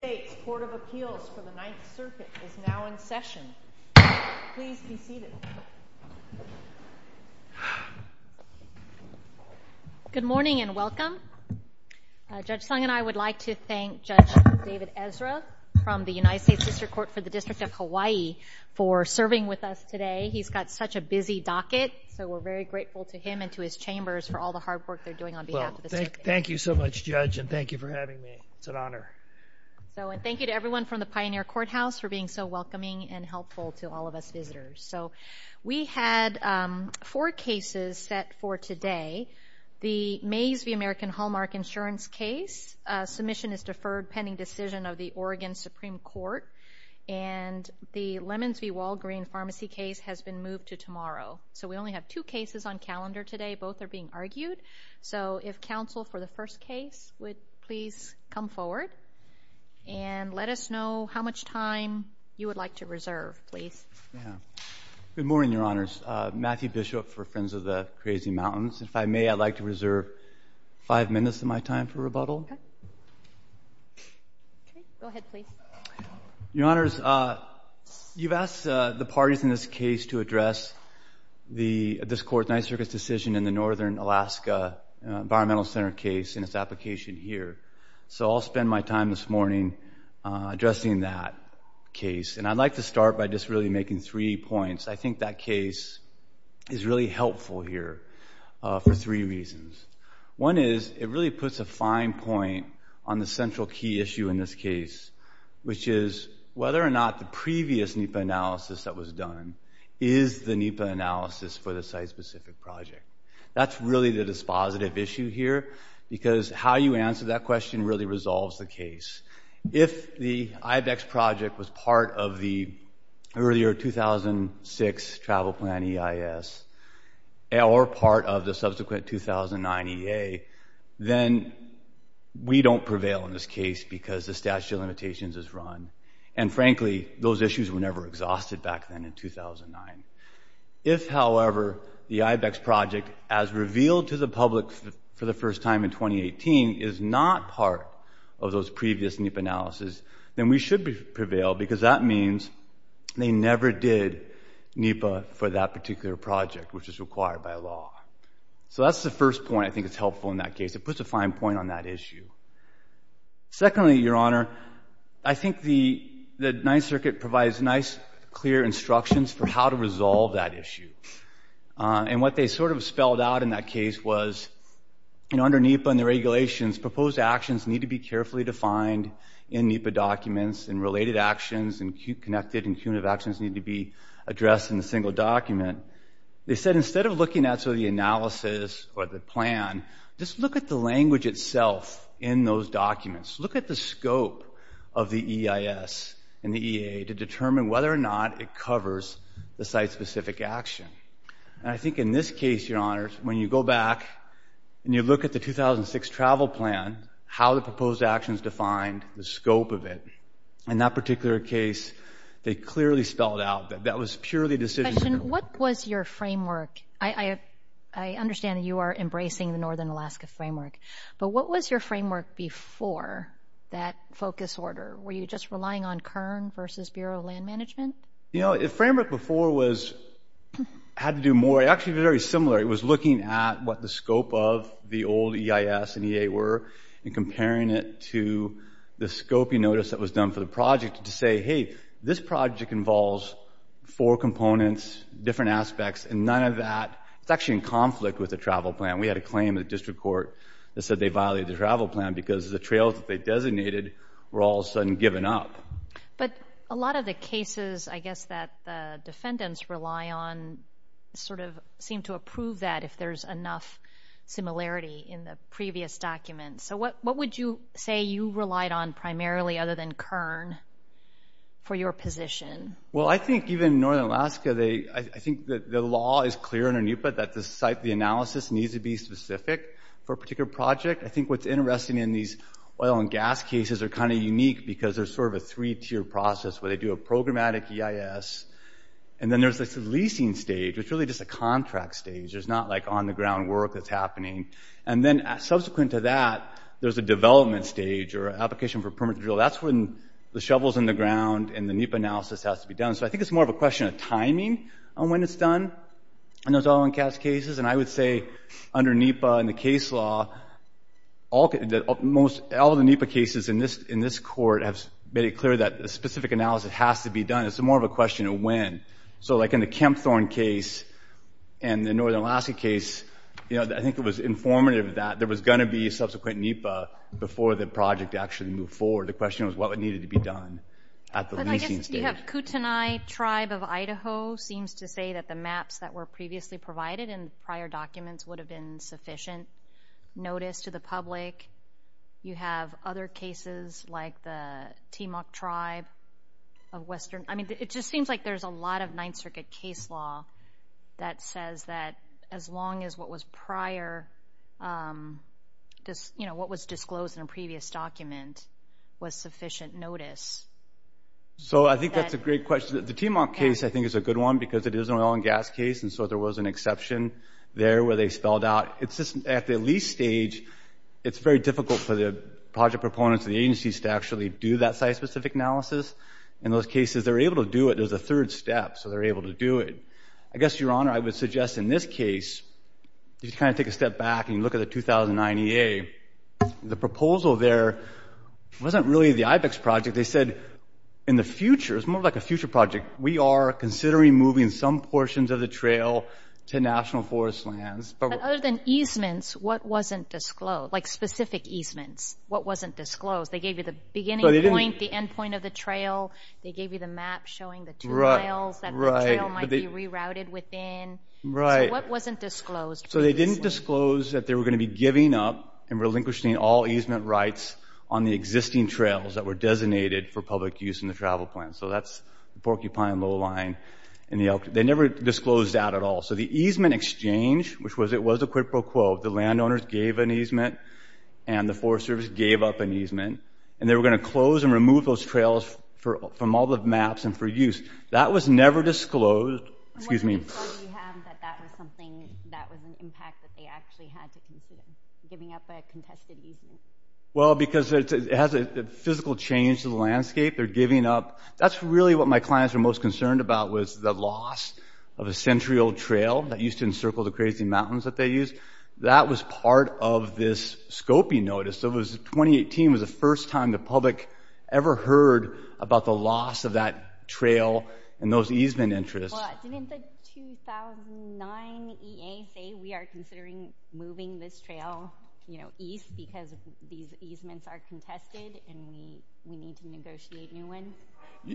The United States Court of Appeals for the Ninth Circuit is now in session. Please be seated. Good morning and welcome. Judge Sung and I would like to thank Judge David Ezra from the United States District Court for the District of Hawaii for serving with us today. He's got such a busy docket, so we're very grateful to him and to his chambers for all the hard work they're doing on behalf of the circuit. Thank you so much, Judge, and thank you for having me. It's an honor. Thank you to everyone from the Pioneer Courthouse for being so welcoming and helpful to all of us visitors. We had four cases set for today. The Mays v. American Hallmark insurance case, submission is deferred pending decision of the Oregon Supreme Court. And the Lemons v. Walgreen pharmacy case has been moved to tomorrow. So we only have two cases on calendar today. Both are being argued. So if counsel for the first case would please come forward and let us know how much time you would like to reserve, please. Good morning, Your Honors. Matthew Bishop for Friends of the Crazy Mountains. If I may, I'd like to reserve five minutes of my time for rebuttal. Okay. Go ahead, please. Your Honors, you've asked the parties in this case to address this court's Ninth Circuit's decision in the Northern Alaska Environmental Center case and its application here. So I'll spend my time this morning addressing that case. And I'd like to start by just really making three points. I think that case is really helpful here for three reasons. One is it really puts a fine point on the central key issue in this case, which is whether or not the previous NEPA analysis that was done is the NEPA analysis for the site-specific project. That's really the dispositive issue here because how you answer that question really resolves the case. If the IBEX project was part of the earlier 2006 Travel Plan EIS or part of the subsequent 2009 EA, then we don't prevail in this case because the statute of limitations is run. And frankly, those issues were never exhausted back then in 2009. If, however, the IBEX project, as revealed to the public for the first time in 2018, is not part of those previous NEPA analysis, then we should prevail because that means they never did NEPA for that particular project, which is required by law. So that's the first point. I think it's helpful in that case. It puts a fine point on that issue. Secondly, Your Honor, I think the Ninth Circuit provides nice, clear instructions for how to resolve that issue. And what they sort of spelled out in that case was, you know, under NEPA and the regulations, proposed actions need to be carefully defined in NEPA documents, and related actions and connected and cumulative actions need to be addressed in a single document. They said instead of looking at sort of the analysis or the plan, just look at the language itself in those documents. Look at the scope of the EIS and the EA to determine whether or not it covers the site-specific action. And I think in this case, Your Honor, when you go back and you look at the 2006 Travel Plan, how the proposed actions defined the scope of it, in that particular case, they clearly spelled out that that was purely decision-making. I have a question. What was your framework? I understand that you are embracing the Northern Alaska Framework. But what was your framework before that focus order? Were you just relying on Kern versus Bureau of Land Management? You know, the framework before had to do more. It actually was very similar. It was looking at what the scope of the old EIS and EA were and comparing it to the scoping notice that was done for the project to say, hey, this project involves four components, different aspects, and none of that is actually in conflict with the Travel Plan. We had a claim in the district court that said they violated the Travel Plan because the trails that they designated were all of a sudden given up. But a lot of the cases, I guess, that the defendants rely on sort of seem to approve that if there's enough similarity in the previous documents. So what would you say you relied on primarily other than Kern for your position? Well, I think even Northern Alaska, I think the law is clear under NEPA that the site, the analysis needs to be specific for a particular project. I think what's interesting in these oil and gas cases are kind of unique because there's sort of a three-tier process where they do a programmatic EIS. And then there's this leasing stage, which is really just a contract stage. And then subsequent to that, there's a development stage or application for permit to drill. That's when the shovel's in the ground and the NEPA analysis has to be done. So I think it's more of a question of timing on when it's done in those oil and gas cases. And I would say under NEPA and the case law, all of the NEPA cases in this court have made it clear that a specific analysis has to be done. It's more of a question of when. And so like in the Kempthorne case and the Northern Alaska case, I think it was informative that there was going to be a subsequent NEPA before the project actually moved forward. The question was what needed to be done at the leasing stage. But I guess you have Kootenai Tribe of Idaho seems to say that the maps that were previously provided in prior documents would have been sufficient notice to the public. You have other cases like the Timok Tribe of Western. I mean, it just seems like there's a lot of Ninth Circuit case law that says that as long as what was disclosed in a previous document was sufficient notice. So I think that's a great question. The Timok case, I think, is a good one because it is an oil and gas case, and so there was an exception there where they spelled out. At the lease stage, it's very difficult for the project proponents and the agencies to actually do that site-specific analysis. In those cases, they're able to do it. There's a third step, so they're able to do it. I guess, Your Honor, I would suggest in this case, if you kind of take a step back and you look at the 2009 EA, the proposal there wasn't really the IBEX project. They said in the future, it's more like a future project, we are considering moving some portions of the trail to national forest lands. But other than easements, what wasn't disclosed? Like specific easements, what wasn't disclosed? They gave you the beginning point, the end point of the trail. They gave you the map showing the two miles that the trail might be rerouted within. So what wasn't disclosed previously? So they didn't disclose that they were going to be giving up and relinquishing all easement rights on the existing trails that were designated for public use in the travel plan. So that's the Porcupine Low Line. They never disclosed that at all. So the easement exchange, which it was a quid pro quo. The landowners gave an easement and the Forest Service gave up an easement. And they were going to close and remove those trails from all the maps and for use. That was never disclosed. Excuse me. Well, because it has a physical change to the landscape. They're giving up. That's really what my clients were most concerned about was the loss of a century-old trail that used to encircle the crazy mountains that they used. That was part of this scoping notice. So 2018 was the first time the public ever heard about the loss of that trail and those easement interests.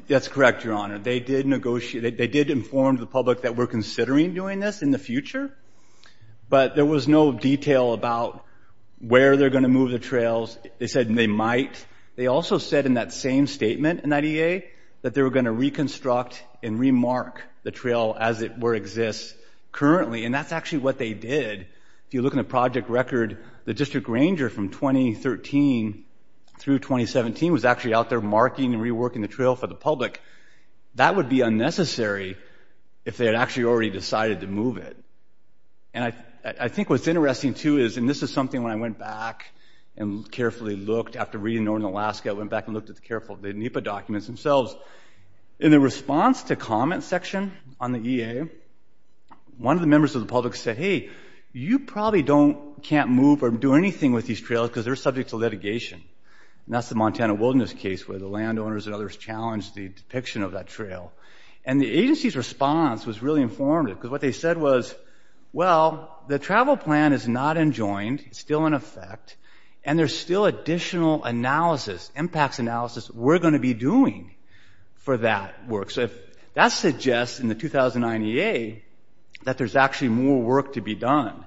That's correct, Your Honor. They did inform the public that we're considering doing this in the future. But there was no detail about where they're going to move the trails. They said they might. They also said in that same statement in that EA that they were going to reconstruct and re-mark the trail as it exists currently. And that's actually what they did. If you look in the project record, the district ranger from 2013 through 2017 was actually out there marking and reworking the trail for the public. That would be unnecessary if they had actually already decided to move it. And I think what's interesting too is, and this is something when I went back and carefully looked after reading Northern Alaska, I went back and looked at the NEPA documents themselves. In the response to comment section on the EA, one of the members of the public said, hey, you probably can't move or do anything with these trails because they're subject to litigation. And that's the Montana wilderness case where the landowners and others challenged the depiction of that trail. And the agency's response was really informative because what they said was, well, the travel plan is not enjoined. It's still in effect. And there's still additional analysis, impacts analysis, we're going to be doing for that work. So that suggests in the 2009 EA that there's actually more work to be done.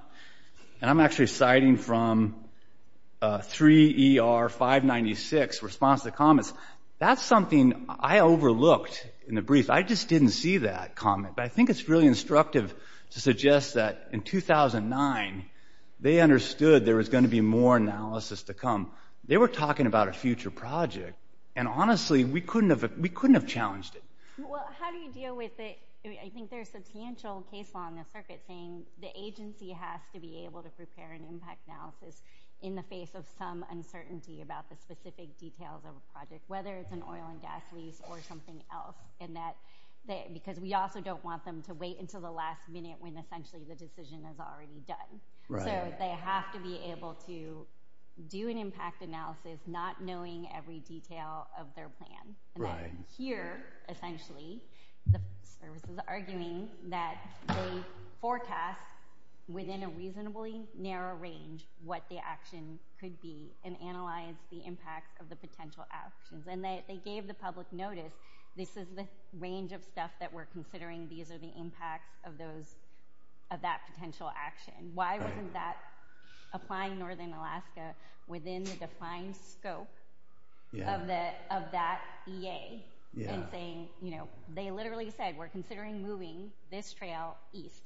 And I'm actually citing from 3 ER 596 response to comments. That's something I overlooked in the brief. I just didn't see that comment. But I think it's really instructive to suggest that in 2009 they understood there was going to be more analysis to come. They were talking about a future project. And honestly, we couldn't have challenged it. Well, how do you deal with it? I think there's substantial case law in the circuit saying the agency has to be able to prepare an impact analysis in the face of some uncertainty about the specific details of a project, whether it's an oil and gas lease or something else, because we also don't want them to wait until the last minute when essentially the decision is already done. So they have to be able to do an impact analysis not knowing every detail of their plan. Right. Here, essentially, the service is arguing that they forecast within a reasonably narrow range what the action could be and analyze the impact of the potential actions. And they gave the public notice, this is the range of stuff that we're considering. These are the impacts of that potential action. Why wasn't that applying Northern Alaska within the defined scope of that EA in saying, you know, they literally said we're considering moving this trail east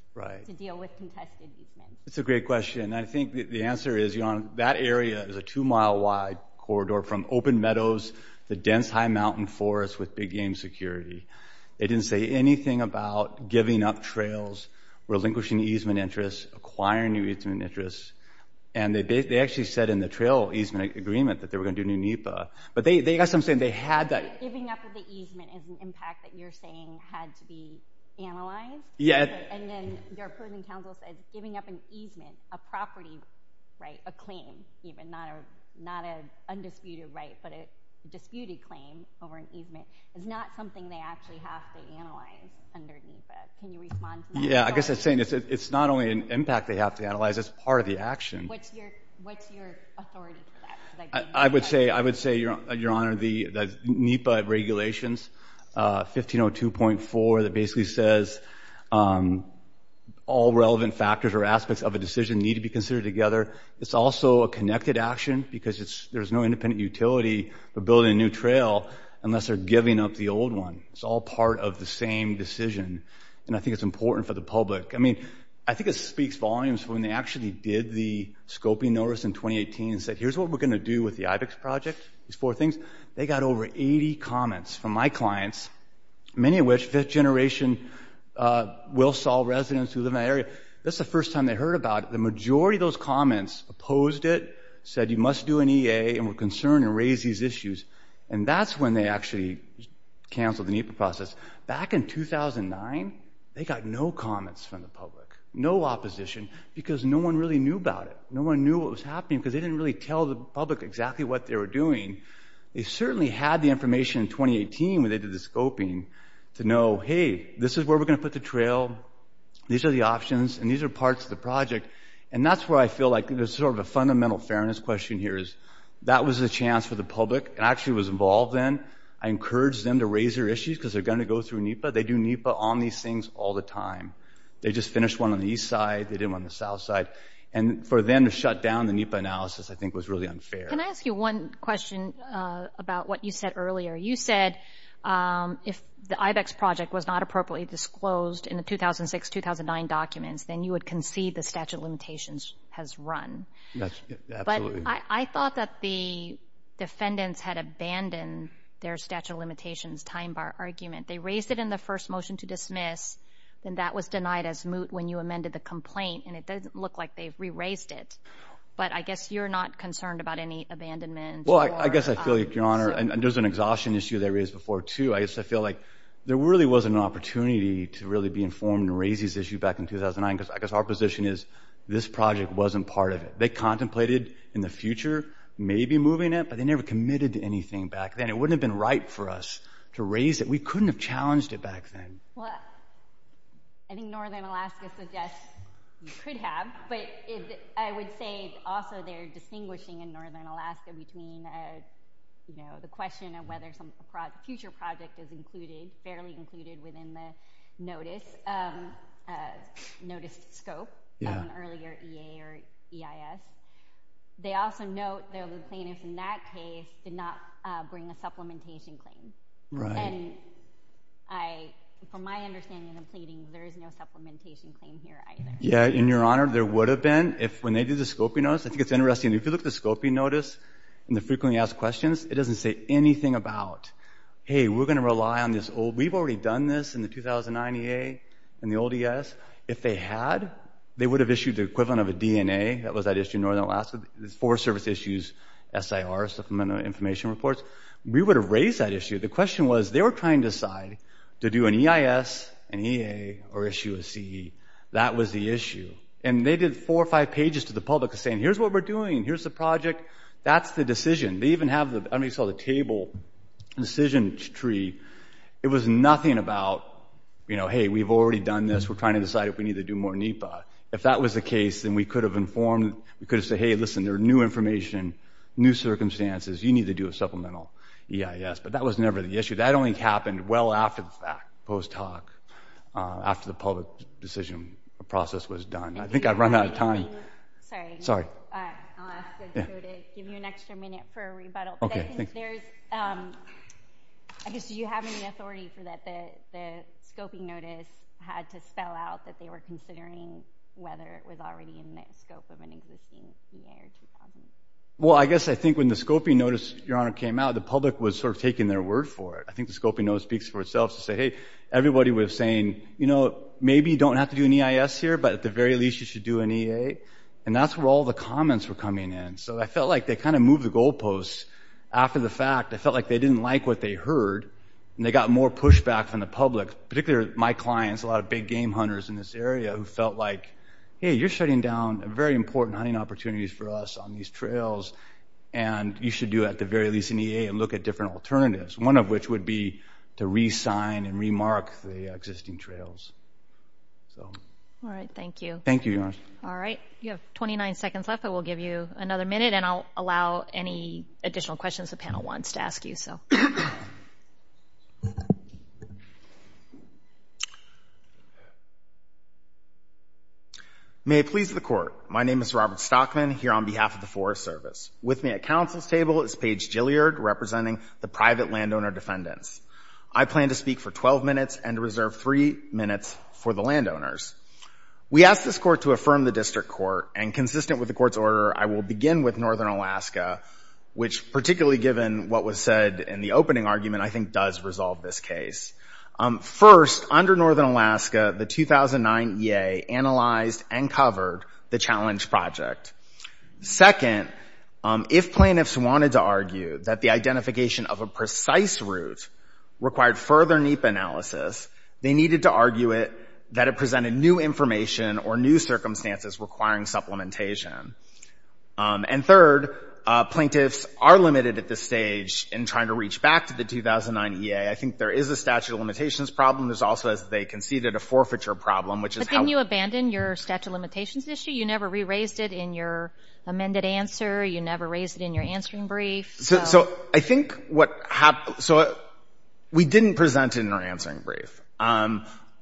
to deal with contested easement? That's a great question. I think the answer is that area is a two-mile-wide corridor from open meadows to dense high mountain forests with big-game security. They didn't say anything about giving up trails, relinquishing easement interests, acquiring new easement interests. And they actually said in the trail easement agreement that they were going to do new NEPA. But I guess I'm saying they had that. Giving up the easement is an impact that you're saying had to be analyzed? Yeah. And then their approving counsel said giving up an easement, a property right, a claim even, not an undisputed right, but a disputed claim over an easement, is not something they actually have to analyze under NEPA. Can you respond to that? Yeah, I guess I'm saying it's not only an impact they have to analyze, it's part of the action. What's your authority to that? I would say, Your Honor, that NEPA regulations 1502.4 that basically says all relevant factors or aspects of a decision need to be considered together. It's also a connected action because there's no independent utility for building a new trail unless they're giving up the old one. It's all part of the same decision. And I think it's important for the public. I mean, I think it speaks volumes when they actually did the scoping notice in 2018 and said, here's what we're going to do with the IBEX project, these four things. They got over 80 comments from my clients, many of which fifth-generation Wilsall residents who live in that area. That's the first time they heard about it. The majority of those comments opposed it, said you must do an EA, and were concerned and raised these issues. And that's when they actually canceled the NEPA process. Back in 2009, they got no comments from the public, no opposition, because no one really knew about it. No one knew what was happening because they didn't really tell the public exactly what they were doing. They certainly had the information in 2018 when they did the scoping to know, hey, this is where we're going to put the trail. These are the options, and these are parts of the project. And that's where I feel like there's sort of a fundamental fairness question here is that was a chance for the public. I actually was involved then. I encouraged them to raise their issues because they're going to go through NEPA. They do NEPA on these things all the time. They just finished one on the east side. They did one on the south side. And for them to shut down the NEPA analysis, I think, was really unfair. Can I ask you one question about what you said earlier? You said if the IVEX project was not appropriately disclosed in the 2006-2009 documents, then you would concede the statute of limitations has run. Absolutely. I thought that the defendants had abandoned their statute of limitations time bar argument. They raised it in the first motion to dismiss, and that was denied as moot when you amended the complaint, and it doesn't look like they've re-raised it. But I guess you're not concerned about any abandonment. Well, I guess I feel like, Your Honor, and there's an exhaustion issue there is before, too. I guess I feel like there really wasn't an opportunity to really be informed and raise this issue back in 2009 because I guess our position is this project wasn't part of it. They contemplated in the future maybe moving it, but they never committed to anything back then. It wouldn't have been right for us to raise it. We couldn't have challenged it back then. Well, I think northern Alaska suggests you could have, but I would say also they're distinguishing in northern Alaska between the question of whether some future project is included, fairly included within the notice scope of an earlier EA or EIS. They also note that the plaintiff in that case did not bring a supplementation claim. And from my understanding of the pleadings, there is no supplementation claim here either. Yeah, and, Your Honor, there would have been if when they did the scoping notice. I think it's interesting. If you look at the scoping notice and the frequently asked questions, it doesn't say anything about, hey, we're going to rely on this old. We've already done this in the 2009 EA and the old EIS. If they had, they would have issued the equivalent of a DNA. That was that issue in northern Alaska, four service issues, SIR, Supplemental Information Reports. We would have raised that issue. The question was they were trying to decide to do an EIS, an EA, or issue a CE. That was the issue. And they did four or five pages to the public saying, here's what we're doing. Here's the project. That's the decision. They even have the table decision tree. It was nothing about, you know, hey, we've already done this. We're trying to decide if we need to do more NEPA. If that was the case, then we could have informed, we could have said, hey, listen, there are new information, new circumstances. You need to do a supplemental EIS. But that was never the issue. That only happened well after the fact, post hoc, after the public decision process was done. I think I've run out of time. Sorry. Sorry. I'll ask to go to give you an extra minute for a rebuttal. But I think there's, I guess, do you have any authority for that the scoping notice had to spell out that they were considering whether it was already in the scope of an existing EA or 2000? Well, I guess I think when the scoping notice, Your Honor, came out, the public was sort of taking their word for it. I think the scoping notice speaks for itself to say, hey, everybody was saying, you know, maybe you don't have to do an EIS here, but at the very least you should do an EA. And that's where all the comments were coming in. So I felt like they kind of moved the goalposts after the fact. I felt like they didn't like what they heard, and they got more pushback from the public, particularly my clients, a lot of big game hunters in this area who felt like, hey, you're shutting down very important hunting opportunities for us on these trails, and you should do at the very least an EA and look at different alternatives, one of which would be to re-sign and re-mark the existing trails. All right. Thank you. Thank you, Your Honor. All right. You have 29 seconds left, but we'll give you another minute, and I'll allow any additional questions the panel wants to ask you. May I please have the court. My name is Robert Stockman, here on behalf of the Forest Service. With me at counsel's table is Paige Jilliard, representing the private landowner defendants. I plan to speak for 12 minutes and reserve three minutes for the landowners. We ask this court to affirm the district court, and consistent with the court's order, I will begin with northern Alaska, which, particularly given what was said in the opening argument, I think does resolve this case. First, under northern Alaska, the 2009 EA analyzed and covered the challenge project. Second, if plaintiffs wanted to argue that the identification of a precise route required further NEPA analysis, they needed to argue it, that it presented new information or new circumstances requiring supplementation. And third, plaintiffs are limited at this stage in trying to reach back to the 2009 EA. I think there is a statute of limitations problem. There's also, as they conceded, a forfeiture problem, which is how— But didn't you abandon your statute of limitations issue? You never re-raised it in your amended answer. You never raised it in your answering brief. So I think what—so we didn't present it in our answering brief.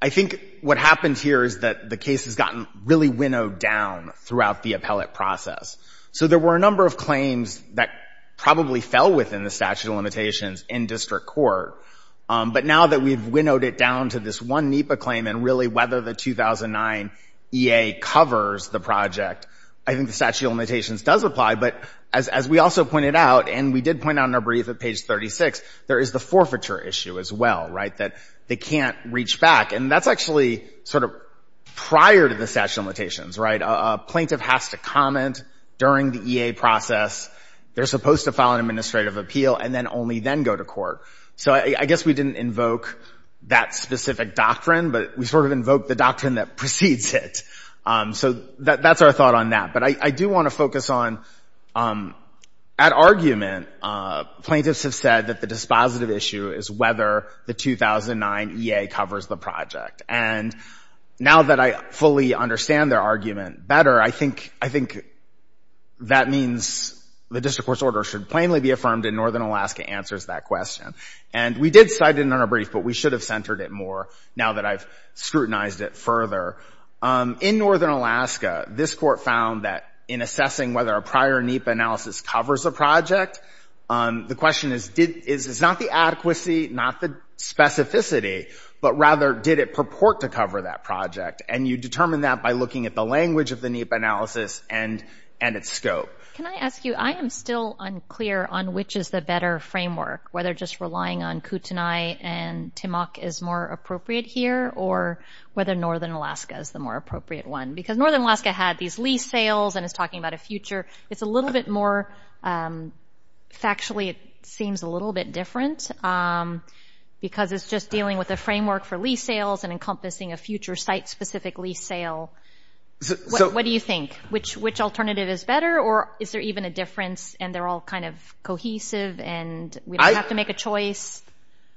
I think what happened here is that the case has gotten really winnowed down throughout the appellate process. So there were a number of claims that probably fell within the statute of limitations in district court. But now that we've winnowed it down to this one NEPA claim and really whether the 2009 EA covers the project, I think the statute of limitations does apply. But as we also pointed out, and we did point out in our brief at page 36, there is the forfeiture issue as well, right, that they can't reach back. And that's actually sort of prior to the statute of limitations, right? A plaintiff has to comment during the EA process. They're supposed to file an administrative appeal and then only then go to court. So I guess we didn't invoke that specific doctrine, but we sort of invoked the doctrine that precedes it. So that's our thought on that. But I do want to focus on, at argument, plaintiffs have said that the dispositive issue is whether the 2009 EA covers the project. And now that I fully understand their argument better, I think that means the district court's order should plainly be affirmed, and Northern Alaska answers that question. And we did cite it in our brief, but we should have centered it more now that I've scrutinized it further. In Northern Alaska, this court found that in assessing whether a prior NEPA analysis covers a project, the question is not the adequacy, not the specificity, but rather did it purport to cover that project? And you determine that by looking at the language of the NEPA analysis and its scope. Can I ask you, I am still unclear on which is the better framework, whether just relying on Kootenai and Timok is more appropriate here, or whether Northern Alaska is the more appropriate one? Because Northern Alaska had these lease sales and is talking about a future. It's a little bit more factually, it seems a little bit different because it's just dealing with a framework for lease sales and encompassing a future site-specific lease sale. What do you think? Which alternative is better, or is there even a difference and they're all kind of cohesive? And we don't have to make a choice?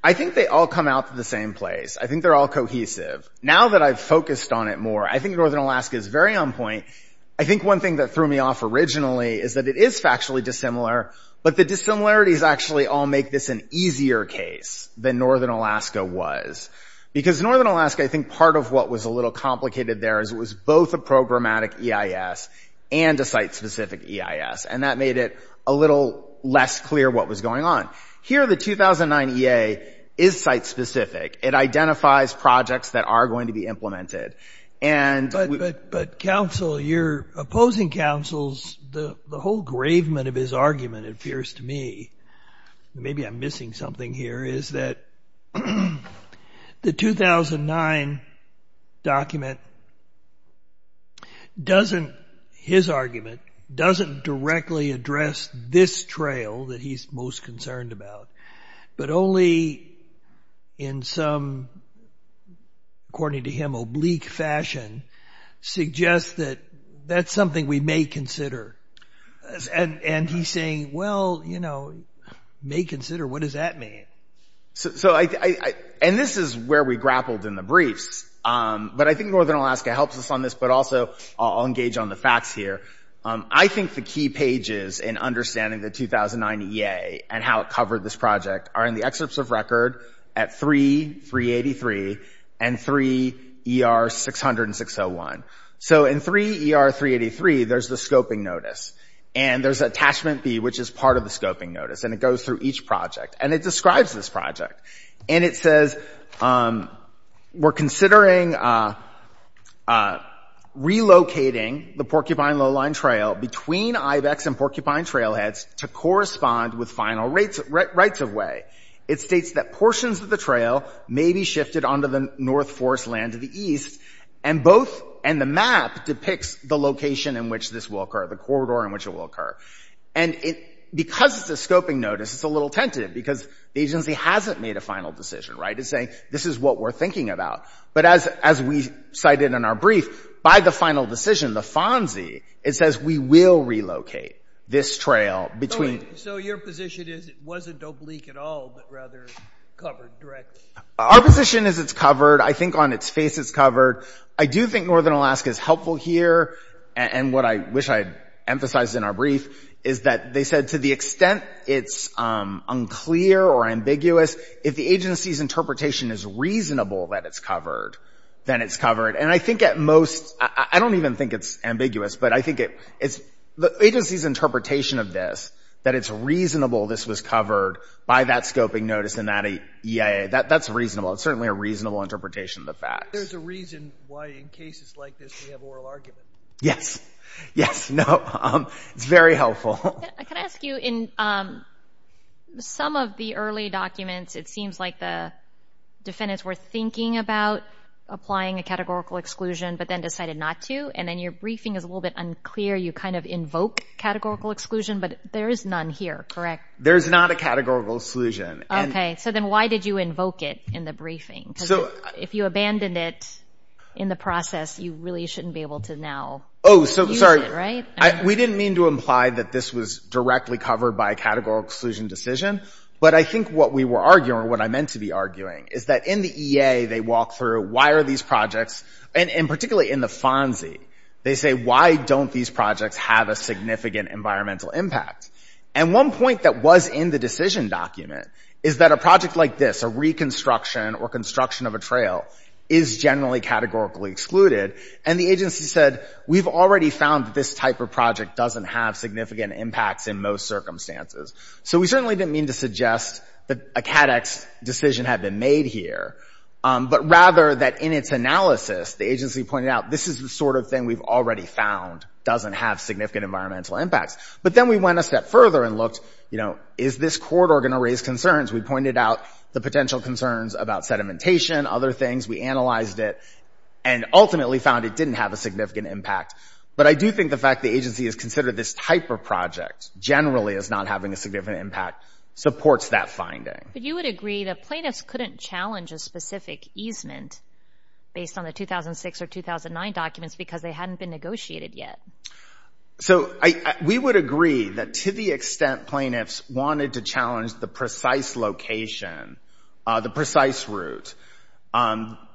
I think they all come out to the same place. I think they're all cohesive. Now that I've focused on it more, I think Northern Alaska is very on point. I think one thing that threw me off originally is that it is factually dissimilar, but the dissimilarities actually all make this an easier case than Northern Alaska was. Because Northern Alaska, I think part of what was a little complicated there is it was both a programmatic EIS and a site-specific EIS. And that made it a little less clear what was going on. Here the 2009 EA is site-specific. It identifies projects that are going to be implemented. But, counsel, you're opposing counsels. The whole gravement of his argument appears to me, maybe I'm missing something here, is that the 2009 document doesn't, his argument, doesn't directly address this trail that he's most concerned about, but only in some, according to him, oblique fashion, suggests that that's something we may consider. And he's saying, well, you know, may consider, what does that mean? And this is where we grappled in the briefs. But I think Northern Alaska helps us on this, but also I'll engage on the facts here. I think the key pages in understanding the 2009 EA and how it covered this project are in the excerpts of record at 3.383 and 3.ER.606.01. So in 3.ER.383, there's the scoping notice. And there's attachment B, which is part of the scoping notice. And it goes through each project. And it describes this project. And it says, we're considering relocating the Porcupine Lowline Trail between Ibex and Porcupine Trailheads to correspond with final rights-of-way. It states that portions of the trail may be shifted onto the North Forest land to the east. And both — and the map depicts the location in which this will occur, the corridor in which it will occur. And because it's a scoping notice, it's a little tentative because the agency hasn't made a final decision, right? It's saying, this is what we're thinking about. But as we cited in our brief, by the final decision, the FONSI, it says we will relocate this trail between — Our position is it's covered. I think on its face it's covered. I do think Northern Alaska is helpful here. And what I wish I had emphasized in our brief is that they said to the extent it's unclear or ambiguous, if the agency's interpretation is reasonable that it's covered, then it's covered. And I think at most — I don't even think it's ambiguous. But I think it's the agency's interpretation of this, that it's reasonable this was covered by that scoping notice and that EIA. That's reasonable. It's certainly a reasonable interpretation of the facts. There's a reason why in cases like this we have oral argument. Yes. Yes. No. It's very helpful. Can I ask you, in some of the early documents, it seems like the defendants were thinking about applying a categorical exclusion but then decided not to. And then your briefing is a little bit unclear. You kind of invoke categorical exclusion. But there is none here, correct? There is not a categorical exclusion. Okay. So then why did you invoke it in the briefing? Because if you abandoned it in the process, you really shouldn't be able to now use it, right? Oh, sorry. We didn't mean to imply that this was directly covered by a categorical exclusion decision. But I think what we were arguing, or what I meant to be arguing, is that in the EA they walk through why are these projects, and particularly in the FONSI, they say why don't these projects have a significant environmental impact. And one point that was in the decision document is that a project like this, a reconstruction or construction of a trail, is generally categorically excluded. And the agency said we've already found that this type of project doesn't have significant impacts in most circumstances. So we certainly didn't mean to suggest that a CADEX decision had been made here, but rather that in its analysis the agency pointed out this is the sort of thing we've already found doesn't have significant environmental impacts. But then we went a step further and looked, you know, is this corridor going to raise concerns? We pointed out the potential concerns about sedimentation, other things. We analyzed it and ultimately found it didn't have a significant impact. But I do think the fact the agency has considered this type of project generally as not having a significant impact supports that finding. But you would agree that plaintiffs couldn't challenge a specific easement based on the 2006 or 2009 documents because they hadn't been negotiated yet. So we would agree that to the extent plaintiffs wanted to challenge the precise location, the precise route,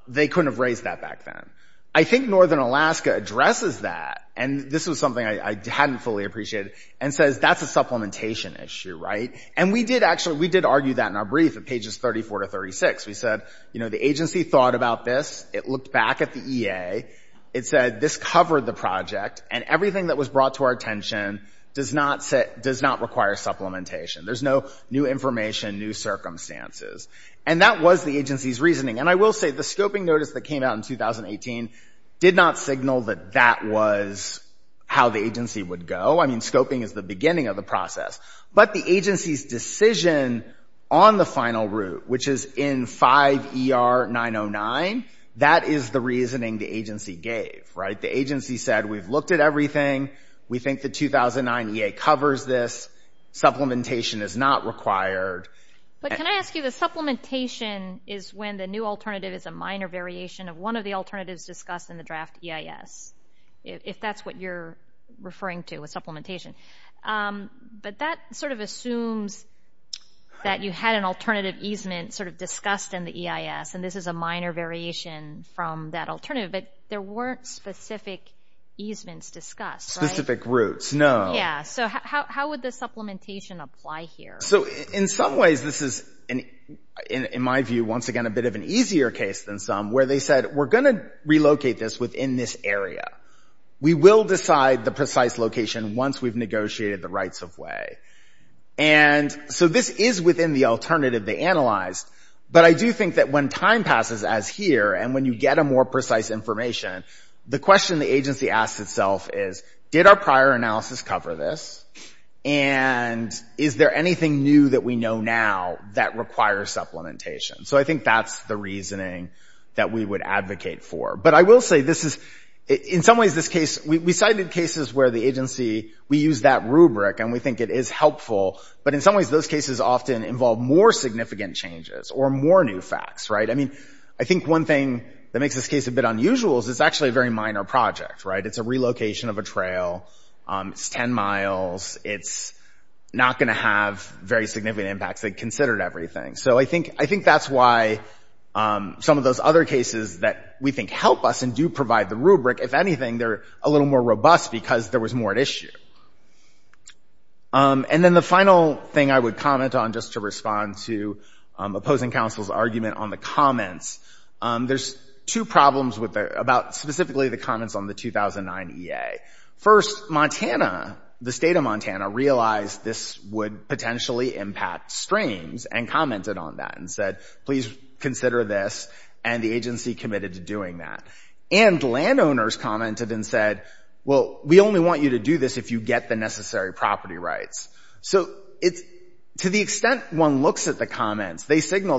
they couldn't have raised that back then. I think Northern Alaska addresses that, and this was something I hadn't fully appreciated, and says that's a supplementation issue, right? And we did argue that in our brief at pages 34 to 36. We said, you know, the agency thought about this. It looked back at the EA. It said this covered the project, and everything that was brought to our attention does not require supplementation. There's no new information, new circumstances. And that was the agency's reasoning. And I will say the scoping notice that came out in 2018 did not signal that that was how the agency would go. I mean, scoping is the beginning of the process. But the agency's decision on the final route, which is in 5 ER 909, that is the reasoning the agency gave, right? The agency said we've looked at everything. We think the 2009 EA covers this. Supplementation is not required. But can I ask you, the supplementation is when the new alternative is a minor variation of one of the alternatives discussed in the draft EIS, if that's what you're referring to with supplementation. But that sort of assumes that you had an alternative easement sort of discussed in the EIS, and this is a minor variation from that alternative. But there weren't specific easements discussed, right? Specific routes, no. Yeah, so how would the supplementation apply here? So in some ways this is, in my view, once again a bit of an easier case than some, where they said we're going to relocate this within this area. We will decide the precise location once we've negotiated the rights-of-way. And so this is within the alternative they analyzed. But I do think that when time passes, as here, and when you get a more precise information, the question the agency asks itself is, did our prior analysis cover this? And is there anything new that we know now that requires supplementation? So I think that's the reasoning that we would advocate for. But I will say this is, in some ways this case, we cited cases where the agency, we use that rubric and we think it is helpful, but in some ways those cases often involve more significant changes or more new facts, right? I mean, I think one thing that makes this case a bit unusual is it's actually a very minor project, right? It's a relocation of a trail. It's 10 miles. It's not going to have very significant impacts. They considered everything. So I think that's why some of those other cases that we think help us and do provide the rubric, if anything, they're a little more robust because there was more at issue. And then the final thing I would comment on, just to respond to opposing counsel's argument on the comments, there's two problems about specifically the comments on the 2009 EA. First, Montana, the state of Montana, realized this would potentially impact streams and commented on that and said, please consider this, and the agency committed to doing that. And landowners commented and said, well, we only want you to do this if you get the necessary property rights. They signaled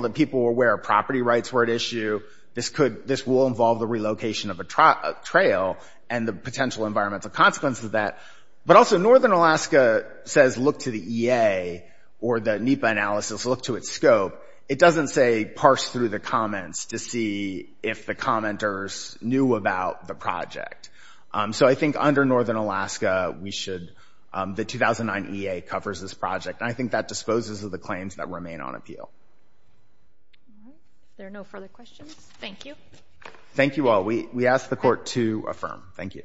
that people were aware of property rights were at issue. This will involve the relocation of a trail and the potential environmental consequences of that. But also, Northern Alaska says look to the EA or the NEPA analysis, look to its scope. It doesn't say parse through the comments to see if the commenters knew about the project. So I think under Northern Alaska, the 2009 EA covers this project. And I think that disposes of the claims that remain on appeal. There are no further questions. Thank you. Thank you all. We ask the court to affirm. Thank you.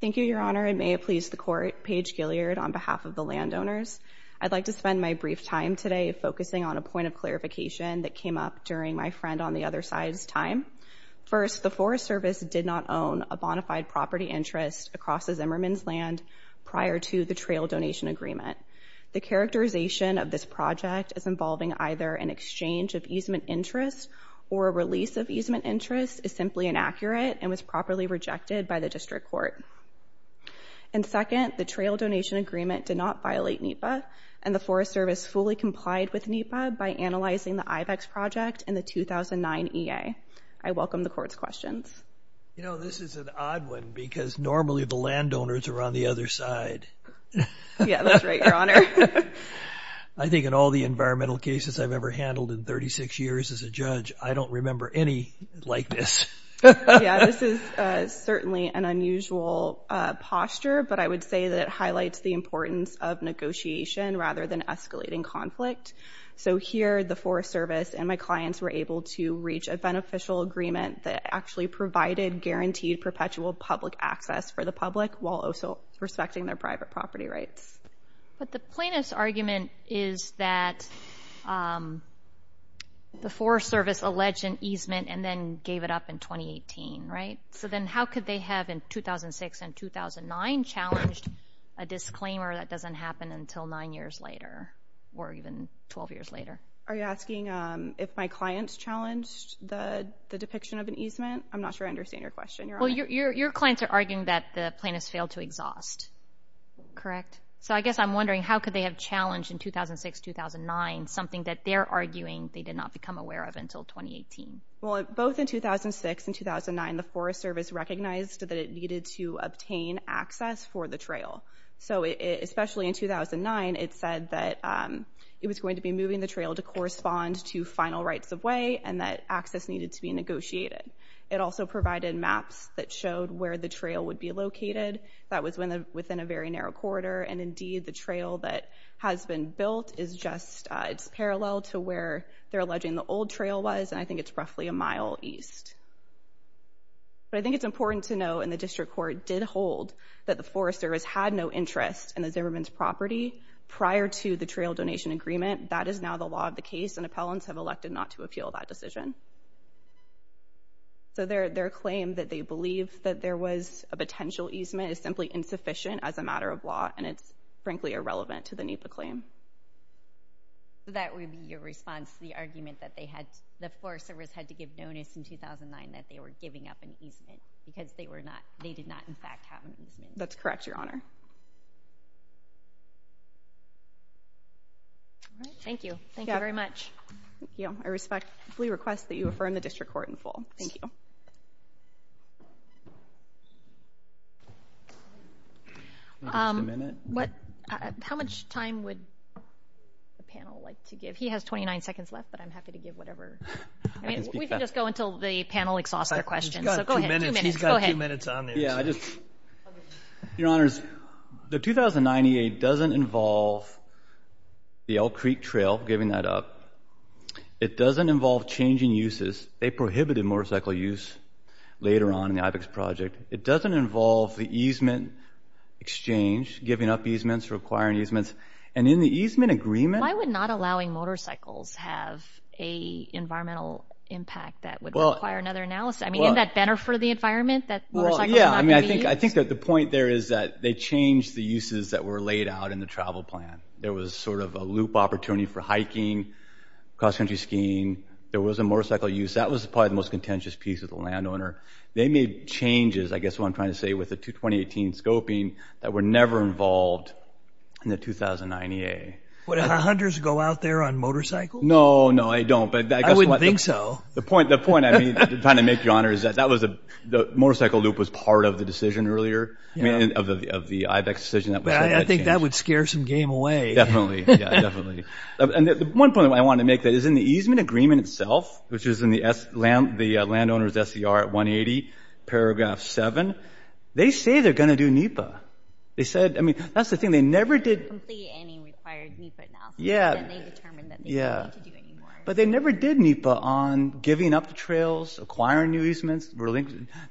Thank you, Your Honor. And may it please the court, Paige Gileard on behalf of the landowners. I'd like to spend my brief time today focusing on a point of clarification that came up during my friend on the other side's time. First, the Forest Service did not own a bonafide property interest across the Zimmerman's land prior to the trail donation agreement. The characterization of this project as involving either an exchange of easement interest or a release of easement interest is simply inaccurate and was properly rejected by the district court. And second, the trail donation agreement did not violate NEPA, and the Forest Service fully complied with NEPA by analyzing the IVEX project and the 2009 EA. I welcome the court's questions. You know, this is an odd one because normally the landowners are on the other side. Yeah, that's right, Your Honor. I think in all the environmental cases I've ever handled in 36 years as a judge, I don't remember any like this. Yeah, this is certainly an unusual posture, but I would say that it highlights the importance of negotiation rather than escalating conflict. So here the Forest Service and my clients were able to reach a beneficial agreement that actually provided guaranteed perpetual public access for the public while also respecting their private property rights. But the plaintiff's argument is that the Forest Service alleged an easement and then gave it up in 2018, right? So then how could they have in 2006 and 2009 challenged a disclaimer that doesn't happen until nine years later or even 12 years later? Are you asking if my clients challenged the depiction of an easement? I'm not sure I understand your question, Your Honor. Well, your clients are arguing that the plaintiffs failed to exhaust. Correct. So I guess I'm wondering how could they have challenged in 2006-2009 something that they're arguing they did not become aware of until 2018? Well, both in 2006 and 2009, the Forest Service recognized that it needed to obtain access for the trail. So especially in 2009, it said that it was going to be moving the trail to correspond to final rights of way and that access needed to be negotiated. It also provided maps that showed where the trail would be located. That was within a very narrow corridor, and indeed the trail that has been built is just it's parallel to where they're alleging the old trail was, and I think it's roughly a mile east. But I think it's important to know, and the District Court did hold, that the Forest Service had no interest in the Zimmerman's property prior to the trail donation agreement. That is now the law of the case, and appellants have elected not to appeal that decision. So their claim that they believe that there was a potential easement is simply insufficient as a matter of law, and it's frankly irrelevant to the NEPA claim. So that would be your response to the argument that the Forest Service had to give notice in 2009 that they were giving up an easement because they did not, in fact, have an easement? That's correct, Your Honor. Thank you. Thank you very much. Thank you. I respectfully request that you affirm the District Court in full. Thank you. How much time would the panel like to give? He has 29 seconds left, but I'm happy to give whatever. We can just go until the panel exhausts their questions. He's got two minutes. Go ahead. He's got two minutes on this. Your Honors, the 2098 doesn't involve the Elk Creek Trail, giving that up. It doesn't involve changing uses. They prohibited motorcycle use later on in the IBEX project. It doesn't involve the easement exchange, giving up easements, requiring easements. And in the easement agreement— Why would not allowing motorcycles have an environmental impact that would require another analysis? I mean, isn't that better for the environment that motorcycles are not going to be used? Well, yeah. I mean, I think that the point there is that they changed the uses that were laid out in the travel plan. There was sort of a loop opportunity for hiking, cross-country skiing. There was a motorcycle use. That was probably the most contentious piece of the landowner. They made changes, I guess what I'm trying to say, with the 2018 scoping that were never involved in the 2009 EA. Would hunters go out there on motorcycles? No, no, they don't. I wouldn't think so. The point I'm trying to make, Your Honor, is that the motorcycle loop was part of the decision earlier, of the IBEX decision. I think that would scare some game away. Definitely. Yeah, definitely. And one point I wanted to make is that in the easement agreement itself, which is in the landowner's SCR 180, paragraph 7, they say they're going to do NEPA. They said—I mean, that's the thing. They never did— They didn't complete any required NEPA now. Then they determined that they didn't need to do any more. But they never did NEPA on giving up the trails, acquiring new easements.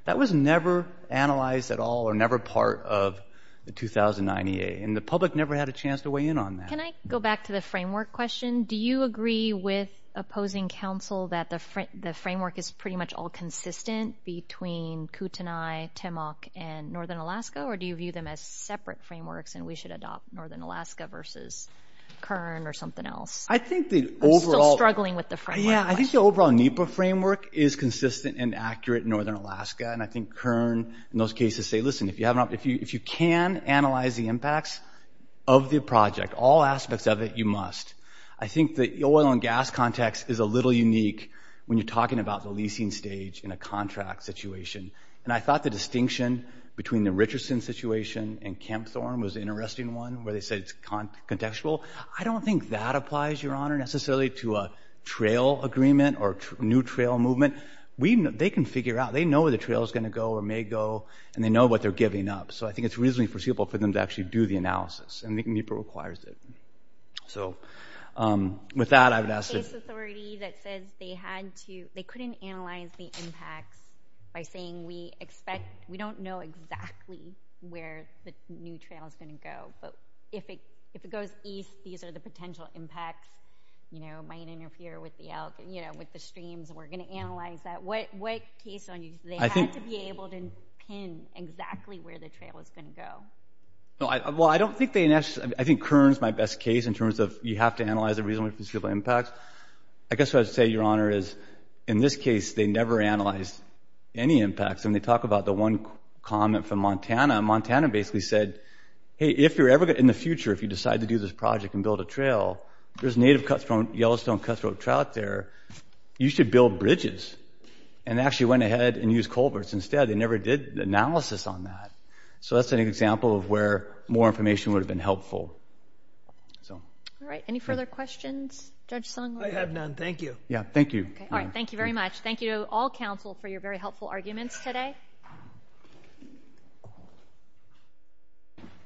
That was never analyzed at all or never part of the 2009 EA. And the public never had a chance to weigh in on that. Can I go back to the framework question? Do you agree with opposing counsel that the framework is pretty much all consistent between Kootenai, Timok, and northern Alaska? Or do you view them as separate frameworks and we should adopt northern Alaska versus Kern or something else? I think the overall— I'm still struggling with the framework question. Yeah, I think the overall NEPA framework is consistent and accurate in northern Alaska. And I think Kern, in those cases, say, listen, if you can analyze the impacts of the project, all aspects of it, you must. I think the oil and gas context is a little unique when you're talking about the leasing stage in a contract situation. And I thought the distinction between the Richardson situation and Kempthorne was an interesting one where they said it's contextual. I don't think that applies, Your Honor, necessarily to a trail agreement or new trail movement. They can figure out. They know where the trail is going to go or may go, and they know what they're giving up. So I think it's reasonably foreseeable for them to actually do the analysis. And I think NEPA requires it. So with that, I would ask— There's a case authority that says they couldn't analyze the impacts by saying we expect— we don't know exactly where the new trail is going to go. But if it goes east, these are the potential impacts. It might interfere with the streams. We're going to analyze that. What case on you do they have to be able to pin exactly where the trail is going to go? Well, I don't think they—I think Kern is my best case in terms of you have to analyze a reasonably foreseeable impact. I guess what I would say, Your Honor, is in this case, they never analyzed any impacts. And they talk about the one comment from Montana. Montana basically said, hey, if you're ever going to—in the future, if you decide to do this project and build a trail, there's native Yellowstone cutthroat trout there. You should build bridges. And they actually went ahead and used culverts instead. They never did the analysis on that. So that's an example of where more information would have been helpful. All right, any further questions? Judge Sung? I have none. Thank you. Yeah, thank you. All right, thank you very much. Thank you to all counsel for your very helpful arguments today.